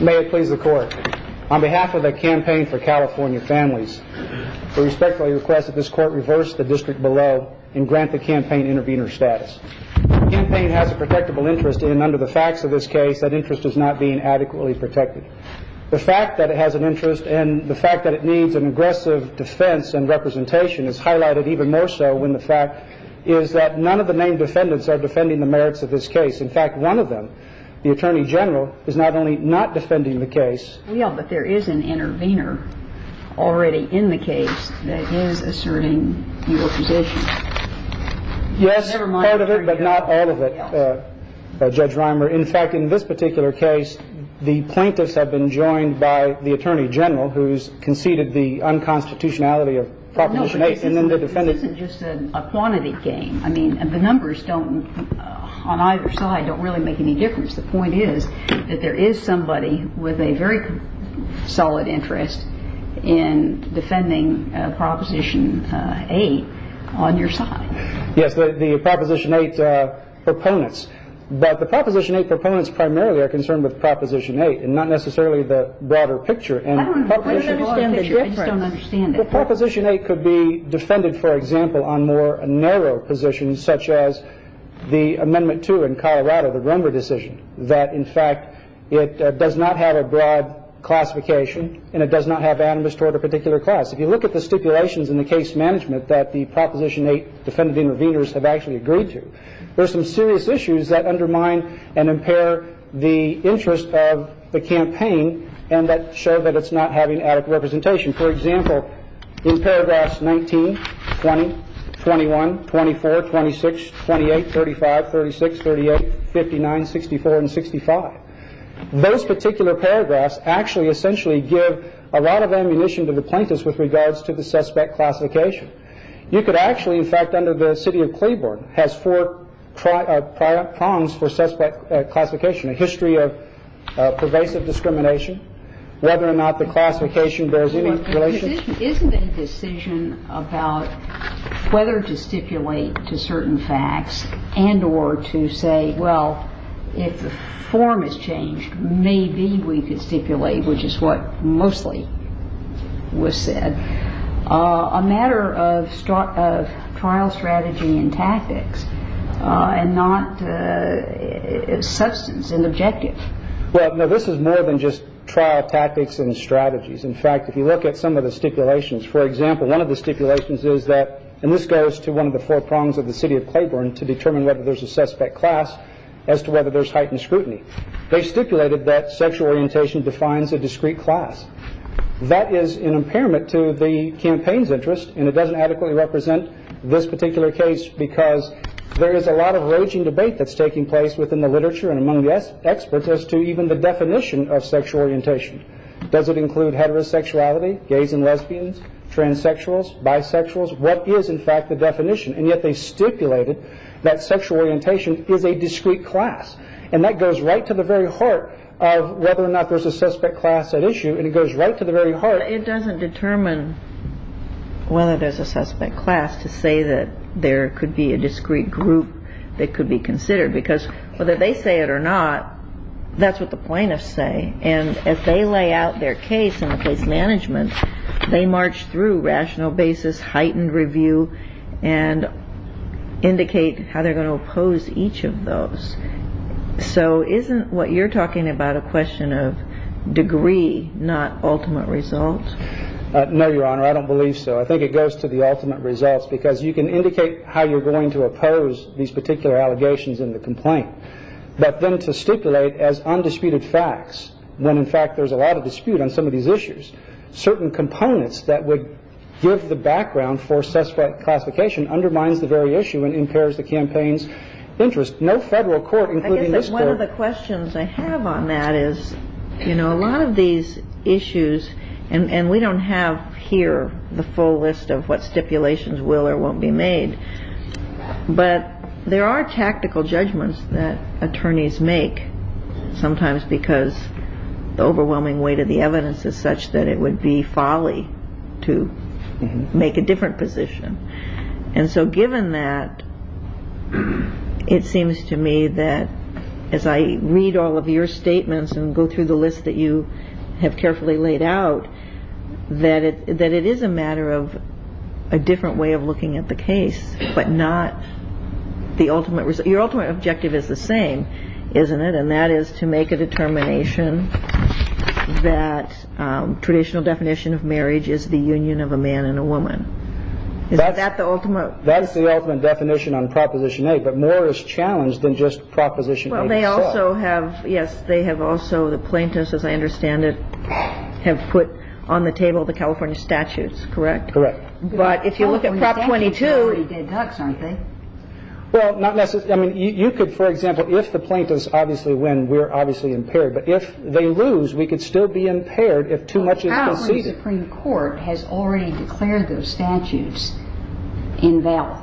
May it please the court. On behalf of the Campaign For California Families, we respectfully request that this court reverse the district below and grant the campaign intervener status. The campaign has a protectable interest in, under the facts of this case, that interest is not being adequately protected. The fact that it has an interest and the fact that it needs an aggressive defense and representation is highlighted even more so when the fact is that none of the named defendants are defending the merits of this case. In fact, one of them, the Attorney General, is not only not defending the case. Yeah, but there is an intervener already in the case that is asserting your position. Yes, part of it, but not all of it, Judge Reimer. In fact, in this particular case, the plaintiffs have been joined by the Attorney General, who has conceded the unconstitutionality of Proposition 8. This isn't just a quantity game. I mean, the numbers don't, on either side, don't really make any difference. The point is that there is somebody with a very solid interest in defending Proposition 8 on your side. Yes, the Proposition 8 proponents. But the Proposition 8 proponents primarily are concerned with Proposition 8 and not necessarily the broader picture. I don't understand the difference. I just don't understand it. Well, Proposition 8 could be defended, for example, on more narrow positions, such as the Amendment 2 in Colorado, the Rumber decision, that, in fact, it does not have a broad classification and it does not have animus toward a particular class. If you look at the stipulations in the case management that the Proposition 8 defendant interveners have actually agreed to, there are some serious issues that undermine and impair the interest of the campaign and that show that it's not having adequate representation. For example, in paragraphs 19, 20, 21, 24, 26, 28, 35, 36, 38, 59, 64 and 65, those particular paragraphs actually essentially give a lot of ammunition to the plaintiffs with regards to the suspect classification. You could actually, in fact, under the city of Cleaborn, has four prongs for suspect classification, a history of pervasive discrimination, whether or not the classification bears any relation. Isn't a decision about whether to stipulate to certain facts and or to say, well, if the form is changed, maybe we could stipulate, which is what mostly was said. A matter of trial strategy and tactics and not substance and objective. Well, this is more than just trial tactics and strategies. In fact, if you look at some of the stipulations, for example, one of the stipulations is that, and this goes to one of the four prongs of the city of Cleaborn to determine whether there's a suspect class as to whether there's heightened scrutiny. They stipulated that sexual orientation defines a discrete class. That is an impairment to the campaign's interest, and it doesn't adequately represent this particular case because there is a lot of raging debate that's taking place within the literature and among the experts as to even the definition of sexual orientation. Does it include heterosexuality, gays and lesbians, transsexuals, bisexuals? What is, in fact, the definition? And yet they stipulated that sexual orientation is a discrete class, and that goes right to the very heart of whether or not there's a suspect class at issue, and it goes right to the very heart. It doesn't determine whether there's a suspect class to say that there could be a discrete group that could be considered because whether they say it or not, that's what the plaintiffs say. And if they lay out their case in the case management, they march through rational basis, heightened review, and indicate how they're going to oppose each of those. So isn't what you're talking about a question of degree, not ultimate results? No, Your Honor, I don't believe so. I think it goes to the ultimate results because you can indicate how you're going to oppose these particular allegations in the complaint, but then to stipulate as undisputed facts when, in fact, there's a lot of dispute on some of these issues. Certain components that would give the background for suspect classification undermines the very issue and impairs the campaign's interest. There's no federal court including this court. I guess that one of the questions I have on that is, you know, a lot of these issues, and we don't have here the full list of what stipulations will or won't be made, but there are tactical judgments that attorneys make, sometimes because the overwhelming weight of the evidence is such that it would be folly to make a different position. And so given that, it seems to me that as I read all of your statements and go through the list that you have carefully laid out, that it is a matter of a different way of looking at the case, but not the ultimate result. Your ultimate objective is the same, isn't it? And that is to make a determination that traditional definition of marriage is the union of a man and a woman. Is that the ultimate? That's the ultimate definition on Proposition 8. But more is challenged than just Proposition 8 itself. Well, they also have, yes, they have also, the plaintiffs, as I understand it, have put on the table the California statutes, correct? Correct. But if you look at Prop 22. California statutes are already dead ducks, aren't they? Well, not necessarily. I mean, you could, for example, if the plaintiffs obviously win, we're obviously impaired. But if they lose, we could still be impaired if too much is conceded. But the Supreme Court has already declared those statutes in valor,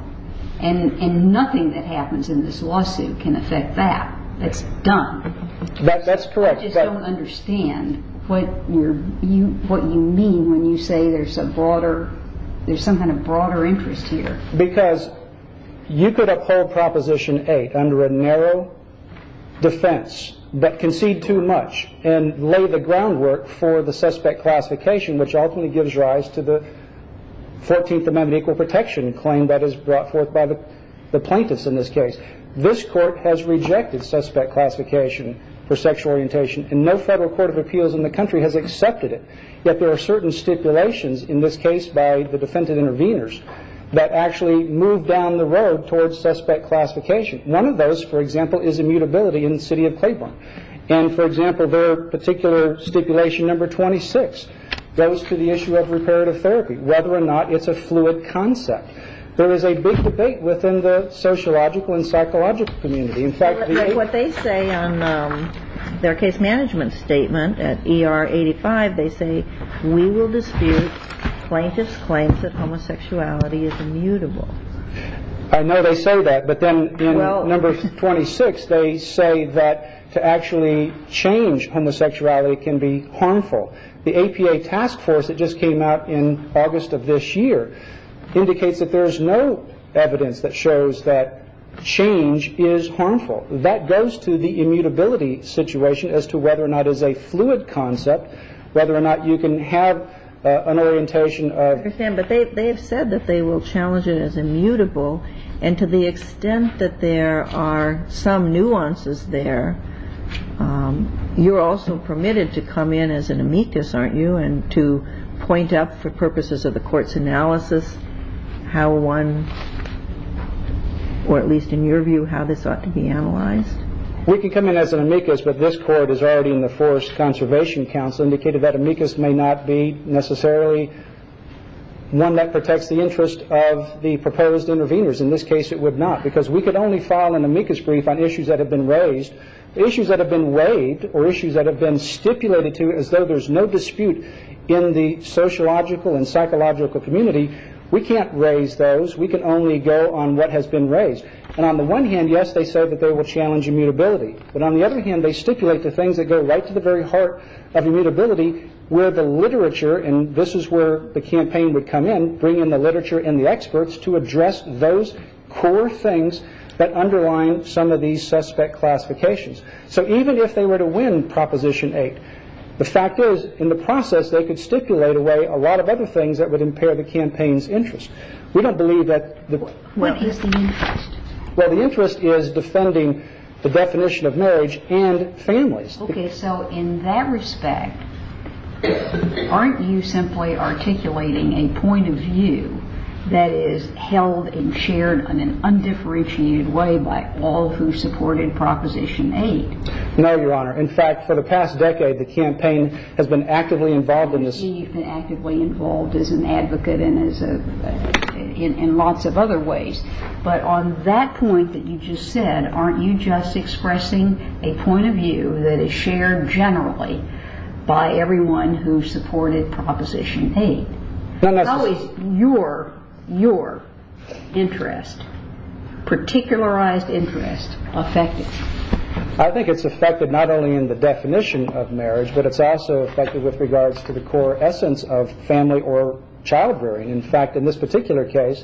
and nothing that happens in this lawsuit can affect that. It's done. That's correct. I just don't understand what you mean when you say there's a broader, there's some kind of broader interest here. Because you could uphold Proposition 8 under a narrow defense but concede too much and lay the groundwork for the suspect classification, which ultimately gives rise to the 14th Amendment equal protection claim that is brought forth by the plaintiffs in this case. This court has rejected suspect classification for sexual orientation, and no federal court of appeals in the country has accepted it. Yet there are certain stipulations in this case by the defendant interveners that actually move down the road towards suspect classification. One of those, for example, is immutability in the city of Claiborne. And, for example, their particular stipulation, Number 26, goes to the issue of reparative therapy, whether or not it's a fluid concept. There is a big debate within the sociological and psychological community. What they say on their case management statement at ER 85, they say, we will dispute plaintiff's claims that homosexuality is immutable. I know they say that, but then in Number 26, they say that to actually change homosexuality can be harmful. The APA task force that just came out in August of this year indicates that there is no evidence that shows that change is harmful. That goes to the immutability situation as to whether or not it's a fluid concept, whether or not you can have an orientation of... But they have said that they will challenge it as immutable, and to the extent that there are some nuances there, you're also permitted to come in as an amicus, aren't you, and to point out for purposes of the court's analysis how one... or at least in your view, how this ought to be analyzed. We can come in as an amicus, but this court is already in the Forest Conservation Council, indicated that amicus may not be necessarily one that protects the interest of the proposed interveners. In this case, it would not, because we could only file an amicus brief on issues that have been raised. Issues that have been waived or issues that have been stipulated to as though there's no dispute in the sociological and psychological community, we can't raise those. We can only go on what has been raised. And on the one hand, yes, they say that they will challenge immutability, but on the other hand, they stipulate the things that go right to the very heart of immutability where the literature, and this is where the campaign would come in, would bring in the literature and the experts to address those core things that underline some of these suspect classifications. So even if they were to win Proposition 8, the fact is, in the process, they could stipulate away a lot of other things that would impair the campaign's interest. We don't believe that... What is the interest? Well, the interest is defending the definition of marriage and families. Okay, so in that respect, aren't you simply articulating a point of view that is held and shared in an undifferentiated way by all who supported Proposition 8? No, Your Honor. In fact, for the past decade, the campaign has been actively involved in this. It has been actively involved as an advocate and in lots of other ways. But on that point that you just said, aren't you just expressing a point of view that is shared generally by everyone who supported Proposition 8? How is your interest, particularized interest, affected? I think it's affected not only in the definition of marriage, but it's also affected with regards to the core essence of family or child-rearing. In fact, in this particular case,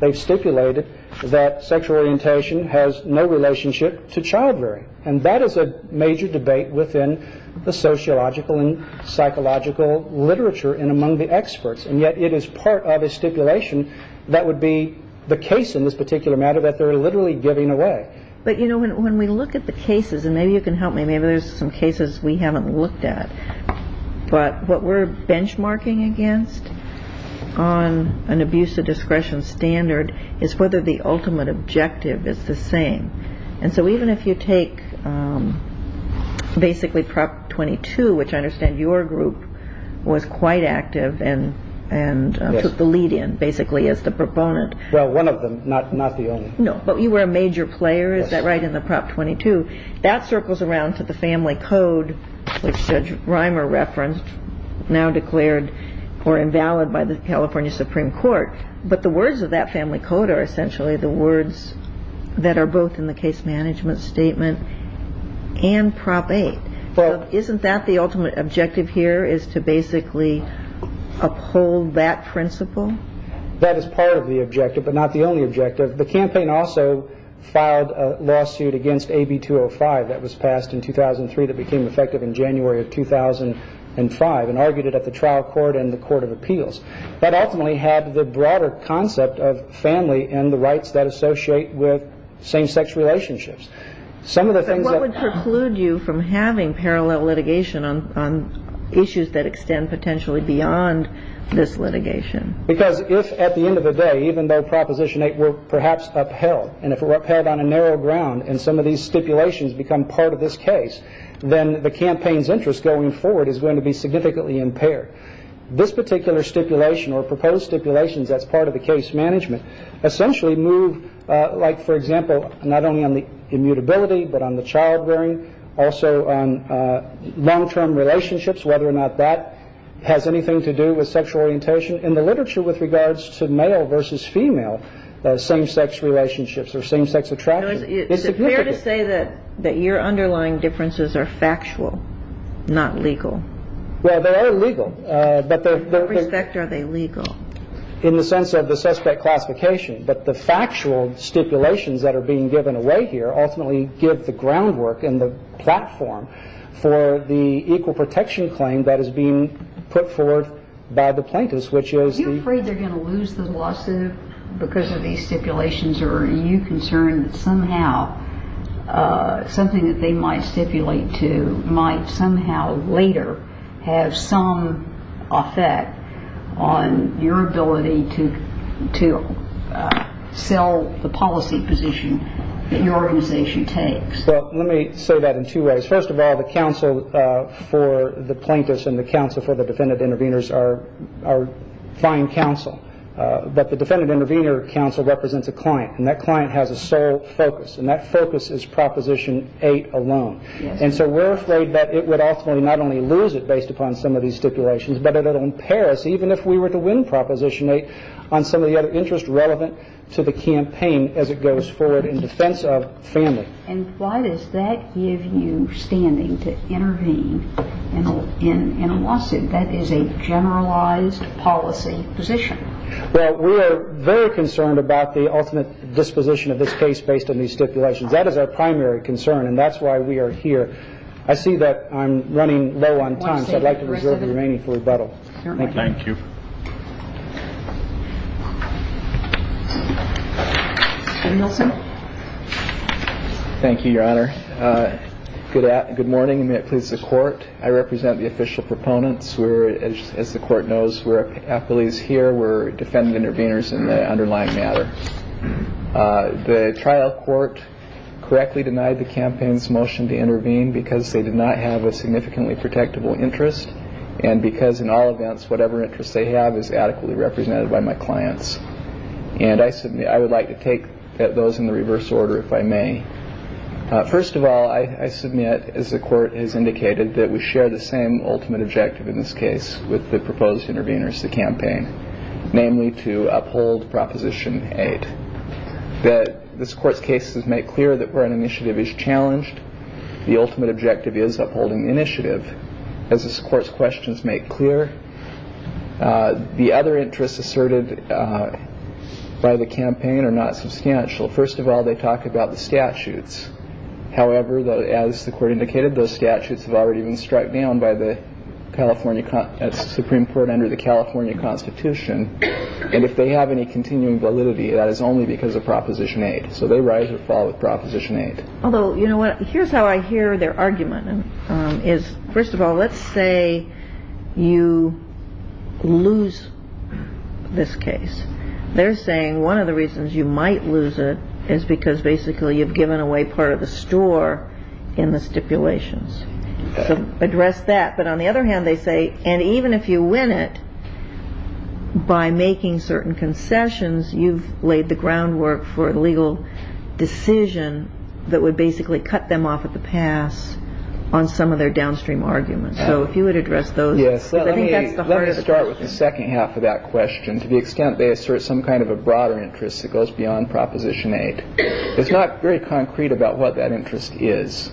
they've stipulated that sexual orientation has no relationship to child-rearing, and that is a major debate within the sociological and psychological literature and among the experts, and yet it is part of a stipulation that would be the case in this particular matter that they're literally giving away. But, you know, when we look at the cases, and maybe you can help me, maybe there's some cases we haven't looked at, but what we're benchmarking against on an abuse of discretion standard is whether the ultimate objective is the same. And so even if you take basically Prop 22, which I understand your group was quite active and took the lead in basically as the proponent. Well, one of them, not the only. No, but you were a major player, is that right, in the Prop 22? Yes. That circles around to the family code, which Judge Reimer referenced, now declared or invalid by the California Supreme Court. But the words of that family code are essentially the words that are both in the case management statement and Prop 8. Isn't that the ultimate objective here is to basically uphold that principle? That is part of the objective, but not the only objective. The campaign also filed a lawsuit against AB 205 that was passed in 2003 that became effective in January of 2005 and argued it at the trial court and the court of appeals. That ultimately had the broader concept of family and the rights that associate with same-sex relationships. But what would preclude you from having parallel litigation on issues that extend potentially beyond this litigation? Because if at the end of the day, even though Proposition 8 were perhaps upheld, and if it were upheld on a narrow ground and some of these stipulations become part of this case, then the campaign's interest going forward is going to be significantly impaired. This particular stipulation or proposed stipulations as part of the case management essentially move, like, for example, not only on the immutability but on the childbearing, also on long-term relationships, whether or not that has anything to do with sexual orientation. In the literature with regards to male versus female same-sex relationships or same-sex attraction, it's significant. Is it fair to say that your underlying differences are factual, not legal? Well, they are legal. In what respect are they legal? In the sense of the suspect classification. But the factual stipulations that are being given away here ultimately give the groundwork and the platform for the equal protection claim that is being put forward by the plaintiffs, which is the- Are you afraid they're going to lose the lawsuit because of these stipulations, or are you concerned that somehow something that they might stipulate to might somehow later have some effect on your ability to sell the policy position that your organization takes? Well, let me say that in two ways. First of all, the counsel for the plaintiffs and the counsel for the defendant-intervenors are fine counsel, but the defendant-intervenor counsel represents a client, and that client has a sole focus, and that focus is Proposition 8 alone. And so we're afraid that it would ultimately not only lose it based upon some of these stipulations, but it would impair us even if we were to win Proposition 8 on some of the other interests relevant to the campaign as it goes forward in defense of family. And why does that give you standing to intervene in a lawsuit? That is a generalized policy position. Well, we are very concerned about the ultimate disposition of this case based on these stipulations. That is our primary concern, and that's why we are here. I see that I'm running low on time, so I'd like to reserve the remaining for rebuttal. Thank you. Thank you, Your Honor. Good morning. May it please the Court. I represent the official proponents. As the Court knows, we're appellees here. We're defendant-intervenors in the underlying matter. The trial court correctly denied the campaign's motion to intervene because they did not have a significantly protectable interest and because in all events, whatever interest they have is adequately represented by my clients. And I would like to take those in the reverse order, if I may. First of all, I submit, as the Court has indicated, that we share the same ultimate objective in this case with the proposed intervenors, the campaign, namely to uphold Proposition 8. This Court's cases make clear that where an initiative is challenged, the ultimate objective is upholding the initiative. As this Court's questions make clear, the other interests asserted by the campaign are not substantial. First of all, they talk about the statutes. However, as the Court indicated, those statutes have already been striped down by the California Supreme Court and under the California Constitution. And if they have any continuing validity, that is only because of Proposition 8. So they rise or fall with Proposition 8. Although, you know what, here's how I hear their argument. First of all, let's say you lose this case. They're saying one of the reasons you might lose it is because basically you've given away part of the store in the stipulations. So address that. But on the other hand, they say, and even if you win it by making certain concessions, you've laid the groundwork for a legal decision that would basically cut them off at the pass on some of their downstream arguments. So if you would address those. Yes. Let me start with the second half of that question. To the extent they assert some kind of a broader interest that goes beyond Proposition 8. It's not very concrete about what that interest is.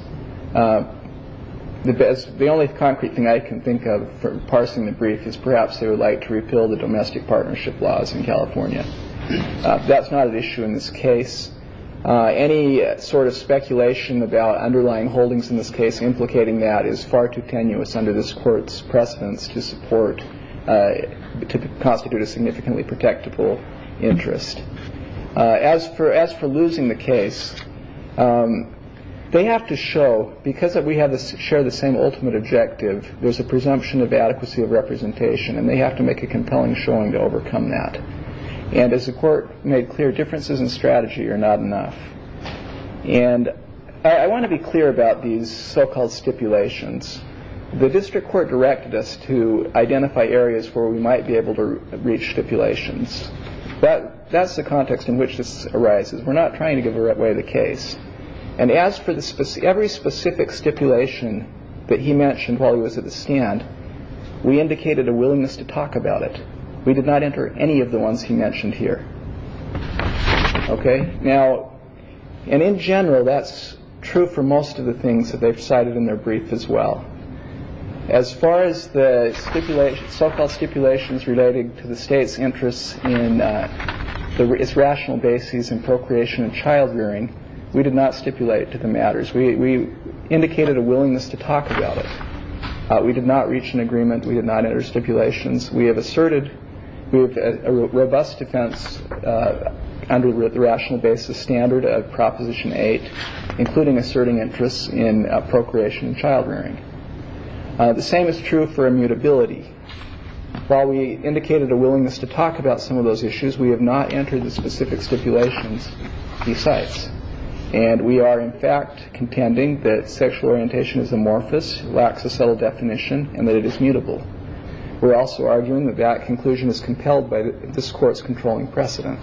The only concrete thing I can think of for parsing the brief is perhaps they would like to repeal the domestic partnership laws in California. That's not an issue in this case. Any sort of speculation about underlying holdings in this case implicating that is far too tenuous under this court's precedence to support, to constitute a significantly protectable interest. As for as for losing the case, they have to show because we have to share the same ultimate objective. There's a presumption of adequacy of representation and they have to make a compelling showing to overcome that. And as the court made clear, differences in strategy are not enough. And I want to be clear about these so-called stipulations. The district court directed us to identify areas where we might be able to reach stipulations. But that's the context in which this arises. We're not trying to give away the case. And as for this, every specific stipulation that he mentioned while he was at the stand, we indicated a willingness to talk about it. We did not enter any of the ones he mentioned here. OK, now, and in general, that's true for most of the things that they've cited in their brief as well. As far as the stipulation so-called stipulations related to the state's interests in the rational basis and procreation and childbearing, we did not stipulate to the matters we indicated a willingness to talk about it. We did not reach an agreement. We did not enter stipulations. We have asserted we have a robust defense under the rational basis standard of Proposition eight, including asserting interests in procreation and childbearing. The same is true for immutability. While we indicated a willingness to talk about some of those issues, we have not entered the specific stipulations besides. And we are, in fact, contending that sexual orientation is amorphous, lacks a subtle definition and that it is mutable. We're also arguing that that conclusion is compelled by this court's controlling precedent.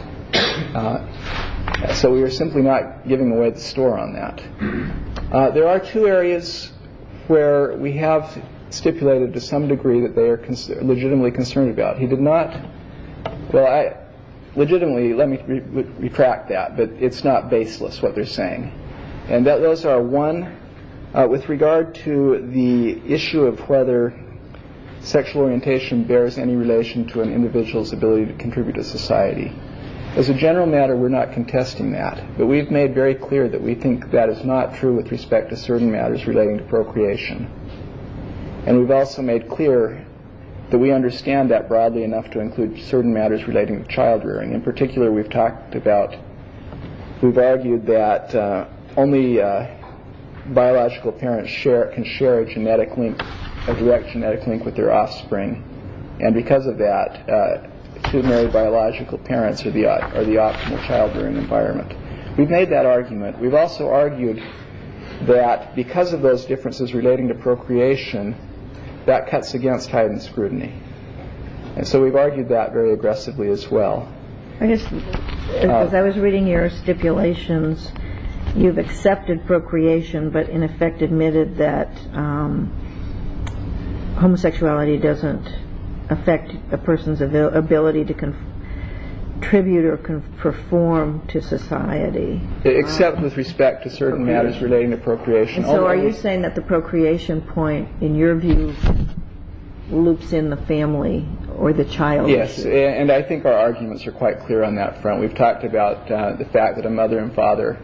So we are simply not giving away the store on that. There are two areas where we have stipulated to some degree that they are legitimately concerned about. He did not. Well, I legitimately let me retract that. But it's not baseless what they're saying. And that those are one with regard to the issue of whether sexual orientation bears any relation to an individual's ability to contribute to society. As a general matter, we're not contesting that. But we've made very clear that we think that is not true with respect to certain matters relating to procreation. And we've also made clear that we understand that broadly enough to include certain matters relating to childrearing. In particular, we've talked about. We've argued that only biological parents share can share a genetic link. A direct genetic link with their offspring. And because of that, biological parents are the are the optimal childhood environment. We've made that argument. We've also argued that because of those differences relating to procreation, that cuts against heightened scrutiny. And so we've argued that very aggressively as well. I guess I was reading your stipulations. You've accepted procreation, but in effect admitted that homosexuality doesn't affect a person's ability to contribute or perform to society. Except with respect to certain matters relating to procreation. So are you saying that the procreation point, in your view, loops in the family or the child? Yes. And I think our arguments are quite clear on that front. We've talked about the fact that a mother and father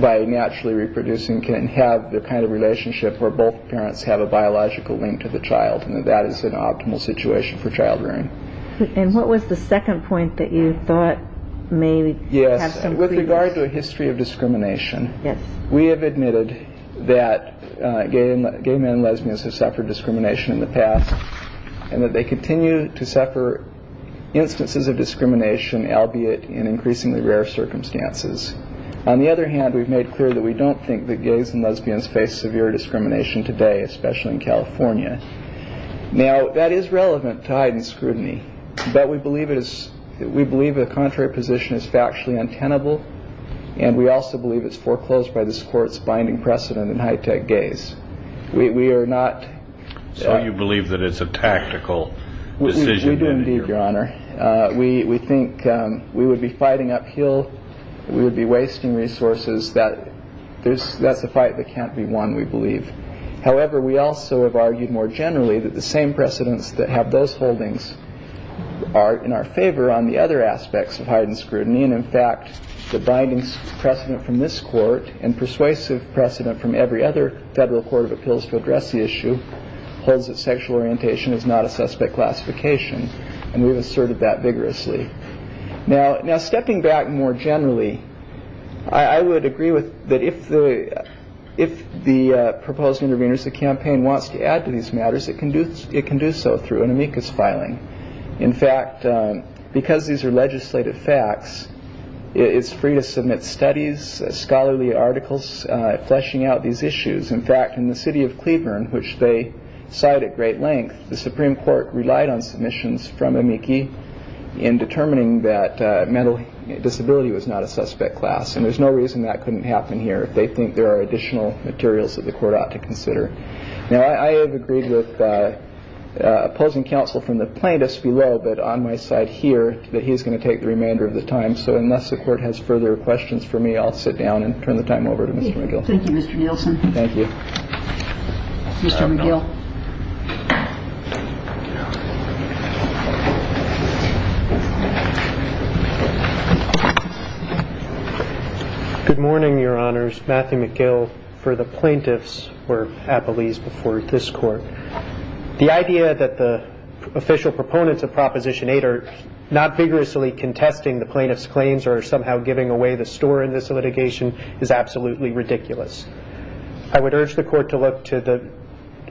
by naturally reproducing can have the kind of relationship where both parents have a biological link to the child. And that is an optimal situation for childrearing. And what was the second point that you thought? Maybe. Yes. And with regard to a history of discrimination. Yes. We have admitted that gay and gay men, lesbians have suffered discrimination in the past and that they continue to suffer instances of discrimination, albeit in increasingly rare circumstances. On the other hand, we've made clear that we don't think that gays and lesbians face severe discrimination today, especially in California. Now, that is relevant to hide and scrutiny. But we believe it is. We believe the contrary position is factually untenable. And we also believe it's foreclosed by this court's binding precedent in high tech gays. We are not. So you believe that it's a tactical decision. Indeed, your honor. We think we would be fighting uphill. We would be wasting resources that there's that's a fight that can't be won, we believe. However, we also have argued more generally that the same precedents that have those holdings are in our favor on the other aspects of hide and scrutiny. And in fact, the binding precedent from this court and persuasive precedent from every other federal court of appeals to address the issue holds that sexual orientation is not a suspect classification. And we've asserted that vigorously now. Now, stepping back more generally, I would agree with that. If the if the proposed interveners, the campaign wants to add to these matters, it can do it can do so through an amicus filing. In fact, because these are legislative facts, it's free to submit studies, scholarly articles fleshing out these issues. In fact, in the city of Cleveland, which they cite at great length, the Supreme Court relied on submissions from a Mickey in determining that mental disability was not a suspect class. And there's no reason that couldn't happen here. They think there are additional materials that the court ought to consider. Now, I have agreed with opposing counsel from the plaintiffs below. But on my side here that he is going to take the remainder of the time. So unless the court has further questions for me, I'll sit down and turn the time over to Mr. McGill. Thank you, Mr. Nielsen. Thank you, Mr. McGill. Good morning, Your Honors. Matthew McGill for the plaintiffs were appellees before this court. The idea that the official proponents of Proposition 8 are not vigorously contesting the plaintiff's claims or somehow giving away the store in this litigation is absolutely ridiculous. I would urge the court to look to the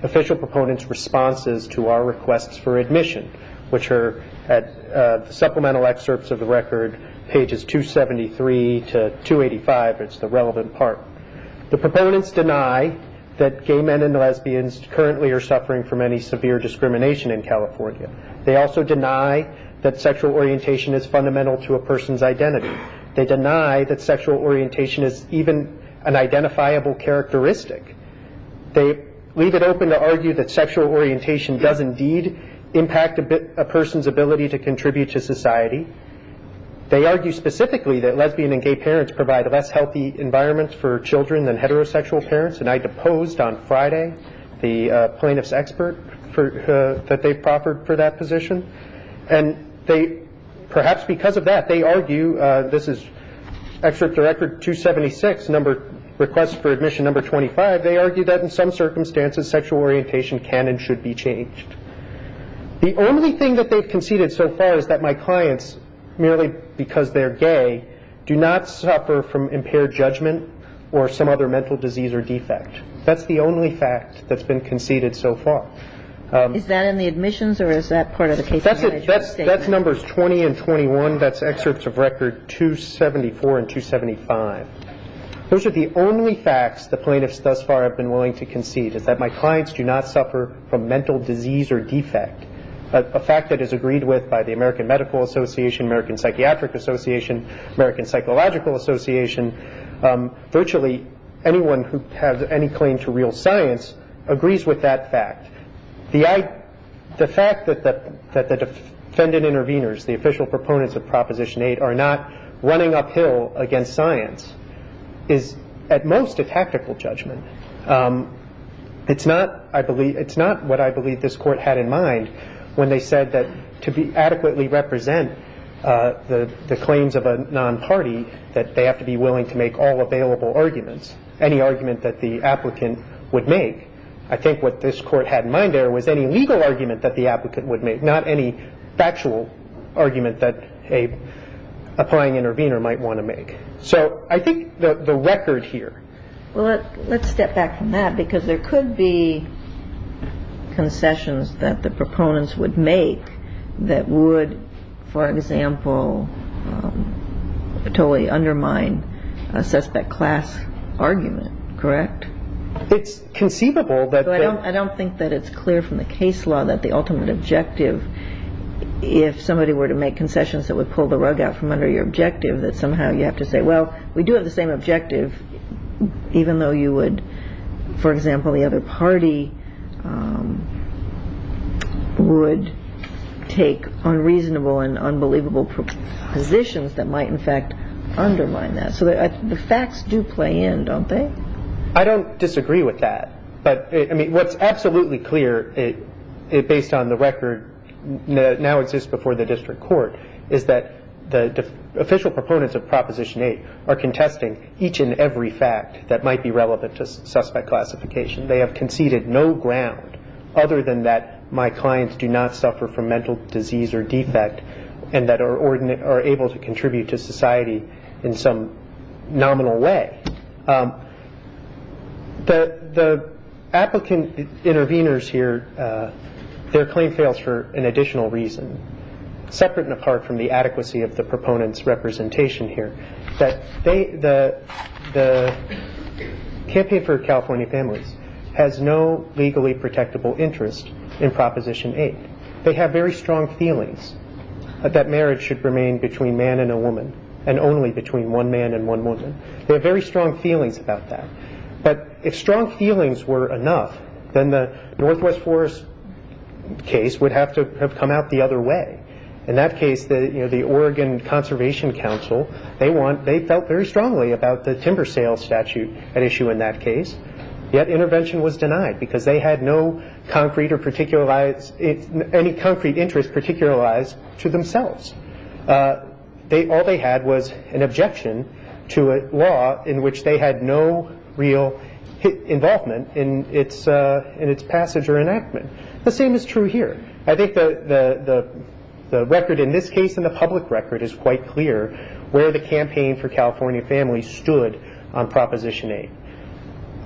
official proponents' responses to our requests for admission, which are at the supplemental excerpts of the record, pages 273 to 285. It's the relevant part. The proponents deny that gay men and lesbians currently are suffering from any severe discrimination in California. They also deny that sexual orientation is fundamental to a person's identity. They deny that sexual orientation is even an identifiable characteristic. They leave it open to argue that sexual orientation does indeed impact a person's ability to contribute to society. They argue specifically that lesbian and gay parents provide a less healthy environment for children than heterosexual parents. And I deposed on Friday the plaintiff's expert that they proffered for that position. And they, perhaps because of that, they argue, this is excerpt of record 276, request for admission number 25, they argue that in some circumstances sexual orientation can and should be changed. The only thing that they've conceded so far is that my clients, merely because they're gay, do not suffer from impaired judgment or some other mental disease or defect. That's the only fact that's been conceded so far. Is that in the admissions or is that part of the case? That's numbers 20 and 21. That's excerpts of record 274 and 275. Those are the only facts the plaintiffs thus far have been willing to concede, is that my clients do not suffer from mental disease or defect, a fact that is agreed with by the American Medical Association, American Psychiatric Association, American Psychological Association. Virtually anyone who has any claim to real science agrees with that fact. The fact that the defendant intervenors, the official proponents of Proposition 8, are not running uphill against science is at most a tactical judgment. It's not, I believe, it's not what I believe this Court had in mind when they said that to adequately represent the claims of a non-party, that they have to be willing to make all available arguments, any argument that the applicant would make. I think what this Court had in mind there was any legal argument that the applicant would make, not any factual argument that an applying intervenor might want to make. So I think the record here... Well, let's step back from that because there could be concessions that the proponents would make that would, for example, totally undermine a suspect class argument, correct? It's conceivable that... I don't think that it's clear from the case law that the ultimate objective, if somebody were to make concessions that would pull the rug out from under your objective, that somehow you have to say, well, we do have the same objective even though you would, for example, the other party would take unreasonable and unbelievable positions that might in fact undermine that. So the facts do play in, don't they? I don't disagree with that. But, I mean, what's absolutely clear based on the record now exists before the District Court is that the official proponents of Proposition 8 are contesting each and every fact that might be relevant to suspect classification. They have conceded no ground other than that my clients do not suffer from mental disease or defect and that are able to contribute to society in some nominal way. The applicant intervenors here, their claim fails for an additional reason. Separate and apart from the adequacy of the proponents' representation here, the Campaign for California Families has no legally protectable interest in Proposition 8. They have very strong feelings that marriage should remain between man and a woman and only between one man and one woman. They have very strong feelings about that. But if strong feelings were enough, then the Northwest Forest case would have to have come out the other way. In that case, the Oregon Conservation Council, they felt very strongly about the timber sales statute at issue in that case, yet intervention was denied because they had no concrete or particularized, any concrete interest particularized to themselves. All they had was an objection to a law in which they had no real involvement in its passage or enactment. The same is true here. I think the record in this case and the public record is quite clear where the Campaign for California Families stood on Proposition 8.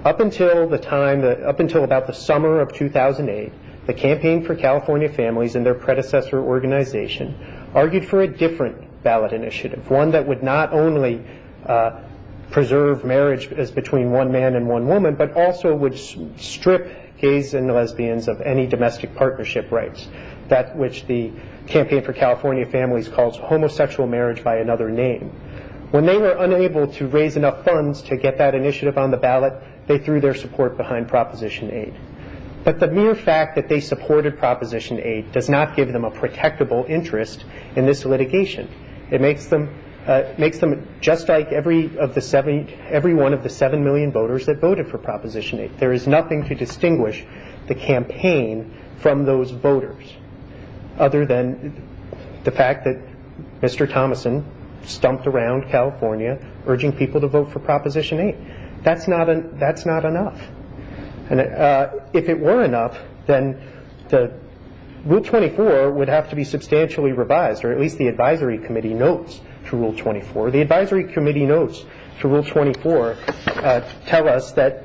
Up until about the summer of 2008, the Campaign for California Families and their predecessor organization argued for a different ballot initiative, one that would not only preserve marriage as between one man and one woman, but also would strip gays and lesbians of any domestic partnership rights, that which the Campaign for California Families calls homosexual marriage by another name. When they were unable to raise enough funds to get that initiative on the ballot, they threw their support behind Proposition 8. But the mere fact that they supported Proposition 8 does not give them a protectable interest in this litigation. It makes them just like every one of the 7 million voters that voted for Proposition 8. There is nothing to distinguish the campaign from those voters other than the fact that Mr. Thomason stumped around California urging people to vote for Proposition 8. That's not enough. If it were enough, then Rule 24 would have to be substantially revised, or at least the Advisory Committee notes to Rule 24. The Advisory Committee notes to Rule 24 tell us that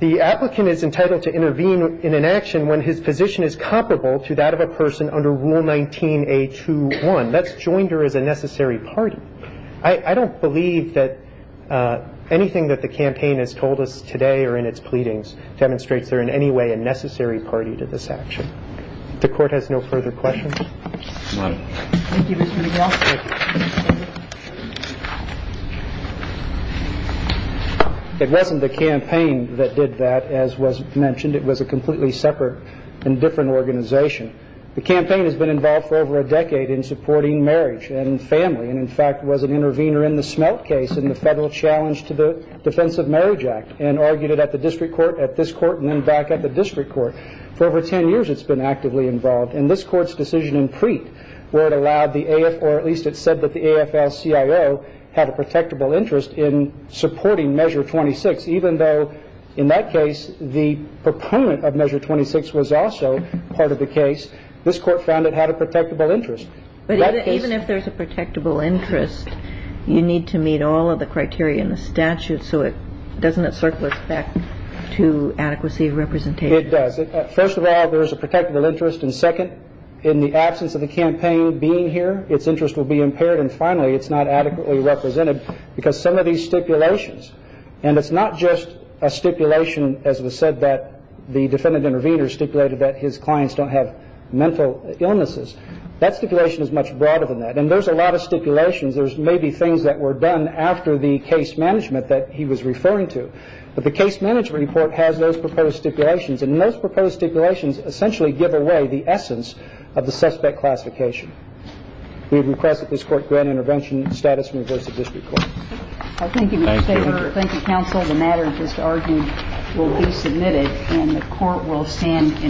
the applicant is entitled to intervene in an action when his position is comparable to that of a person under Rule 19A21. That's joined her as a necessary party. I don't believe that anything that the campaign has told us today or in its pleadings demonstrates they're in any way a necessary party to this action. The Court has no further questions. Thank you, Mr. McGraw. It wasn't the campaign that did that, as was mentioned. It was a completely separate and different organization. The campaign has been involved for over a decade in supporting marriage and family, and in fact was an intervener in the Smelt case and the federal challenge to the Defense of Marriage Act and argued it at the district court, at this court, and then back at the district court. For over 10 years it's been actively involved. And this Court's decision in Preet where it allowed the AFL or at least it said that the AFL-CIO had a protectable interest in supporting Measure 26, even though in that case the proponent of Measure 26 was also part of the case, this Court found it had a protectable interest. But even if there's a protectable interest, you need to meet all of the criteria in the statute so doesn't it circle us back to adequacy of representation? It does. First of all, there is a protectable interest, and second, in the absence of the campaign being here, its interest will be impaired, and finally it's not adequately represented because some of these stipulations, and it's not just a stipulation, as was said, that the defendant intervener stipulated that his clients don't have mental illnesses. That stipulation is much broader than that. And there's a lot of stipulations. There's maybe things that were done after the case management that he was referring to. But the case management report has those proposed stipulations, and those proposed stipulations essentially give away the essence of the suspect classification. We request that this Court grant intervention status from the District Court. Thank you. Thank you. Thank you, Counsel. The matter of this argument will be submitted and the Court will stand in favor.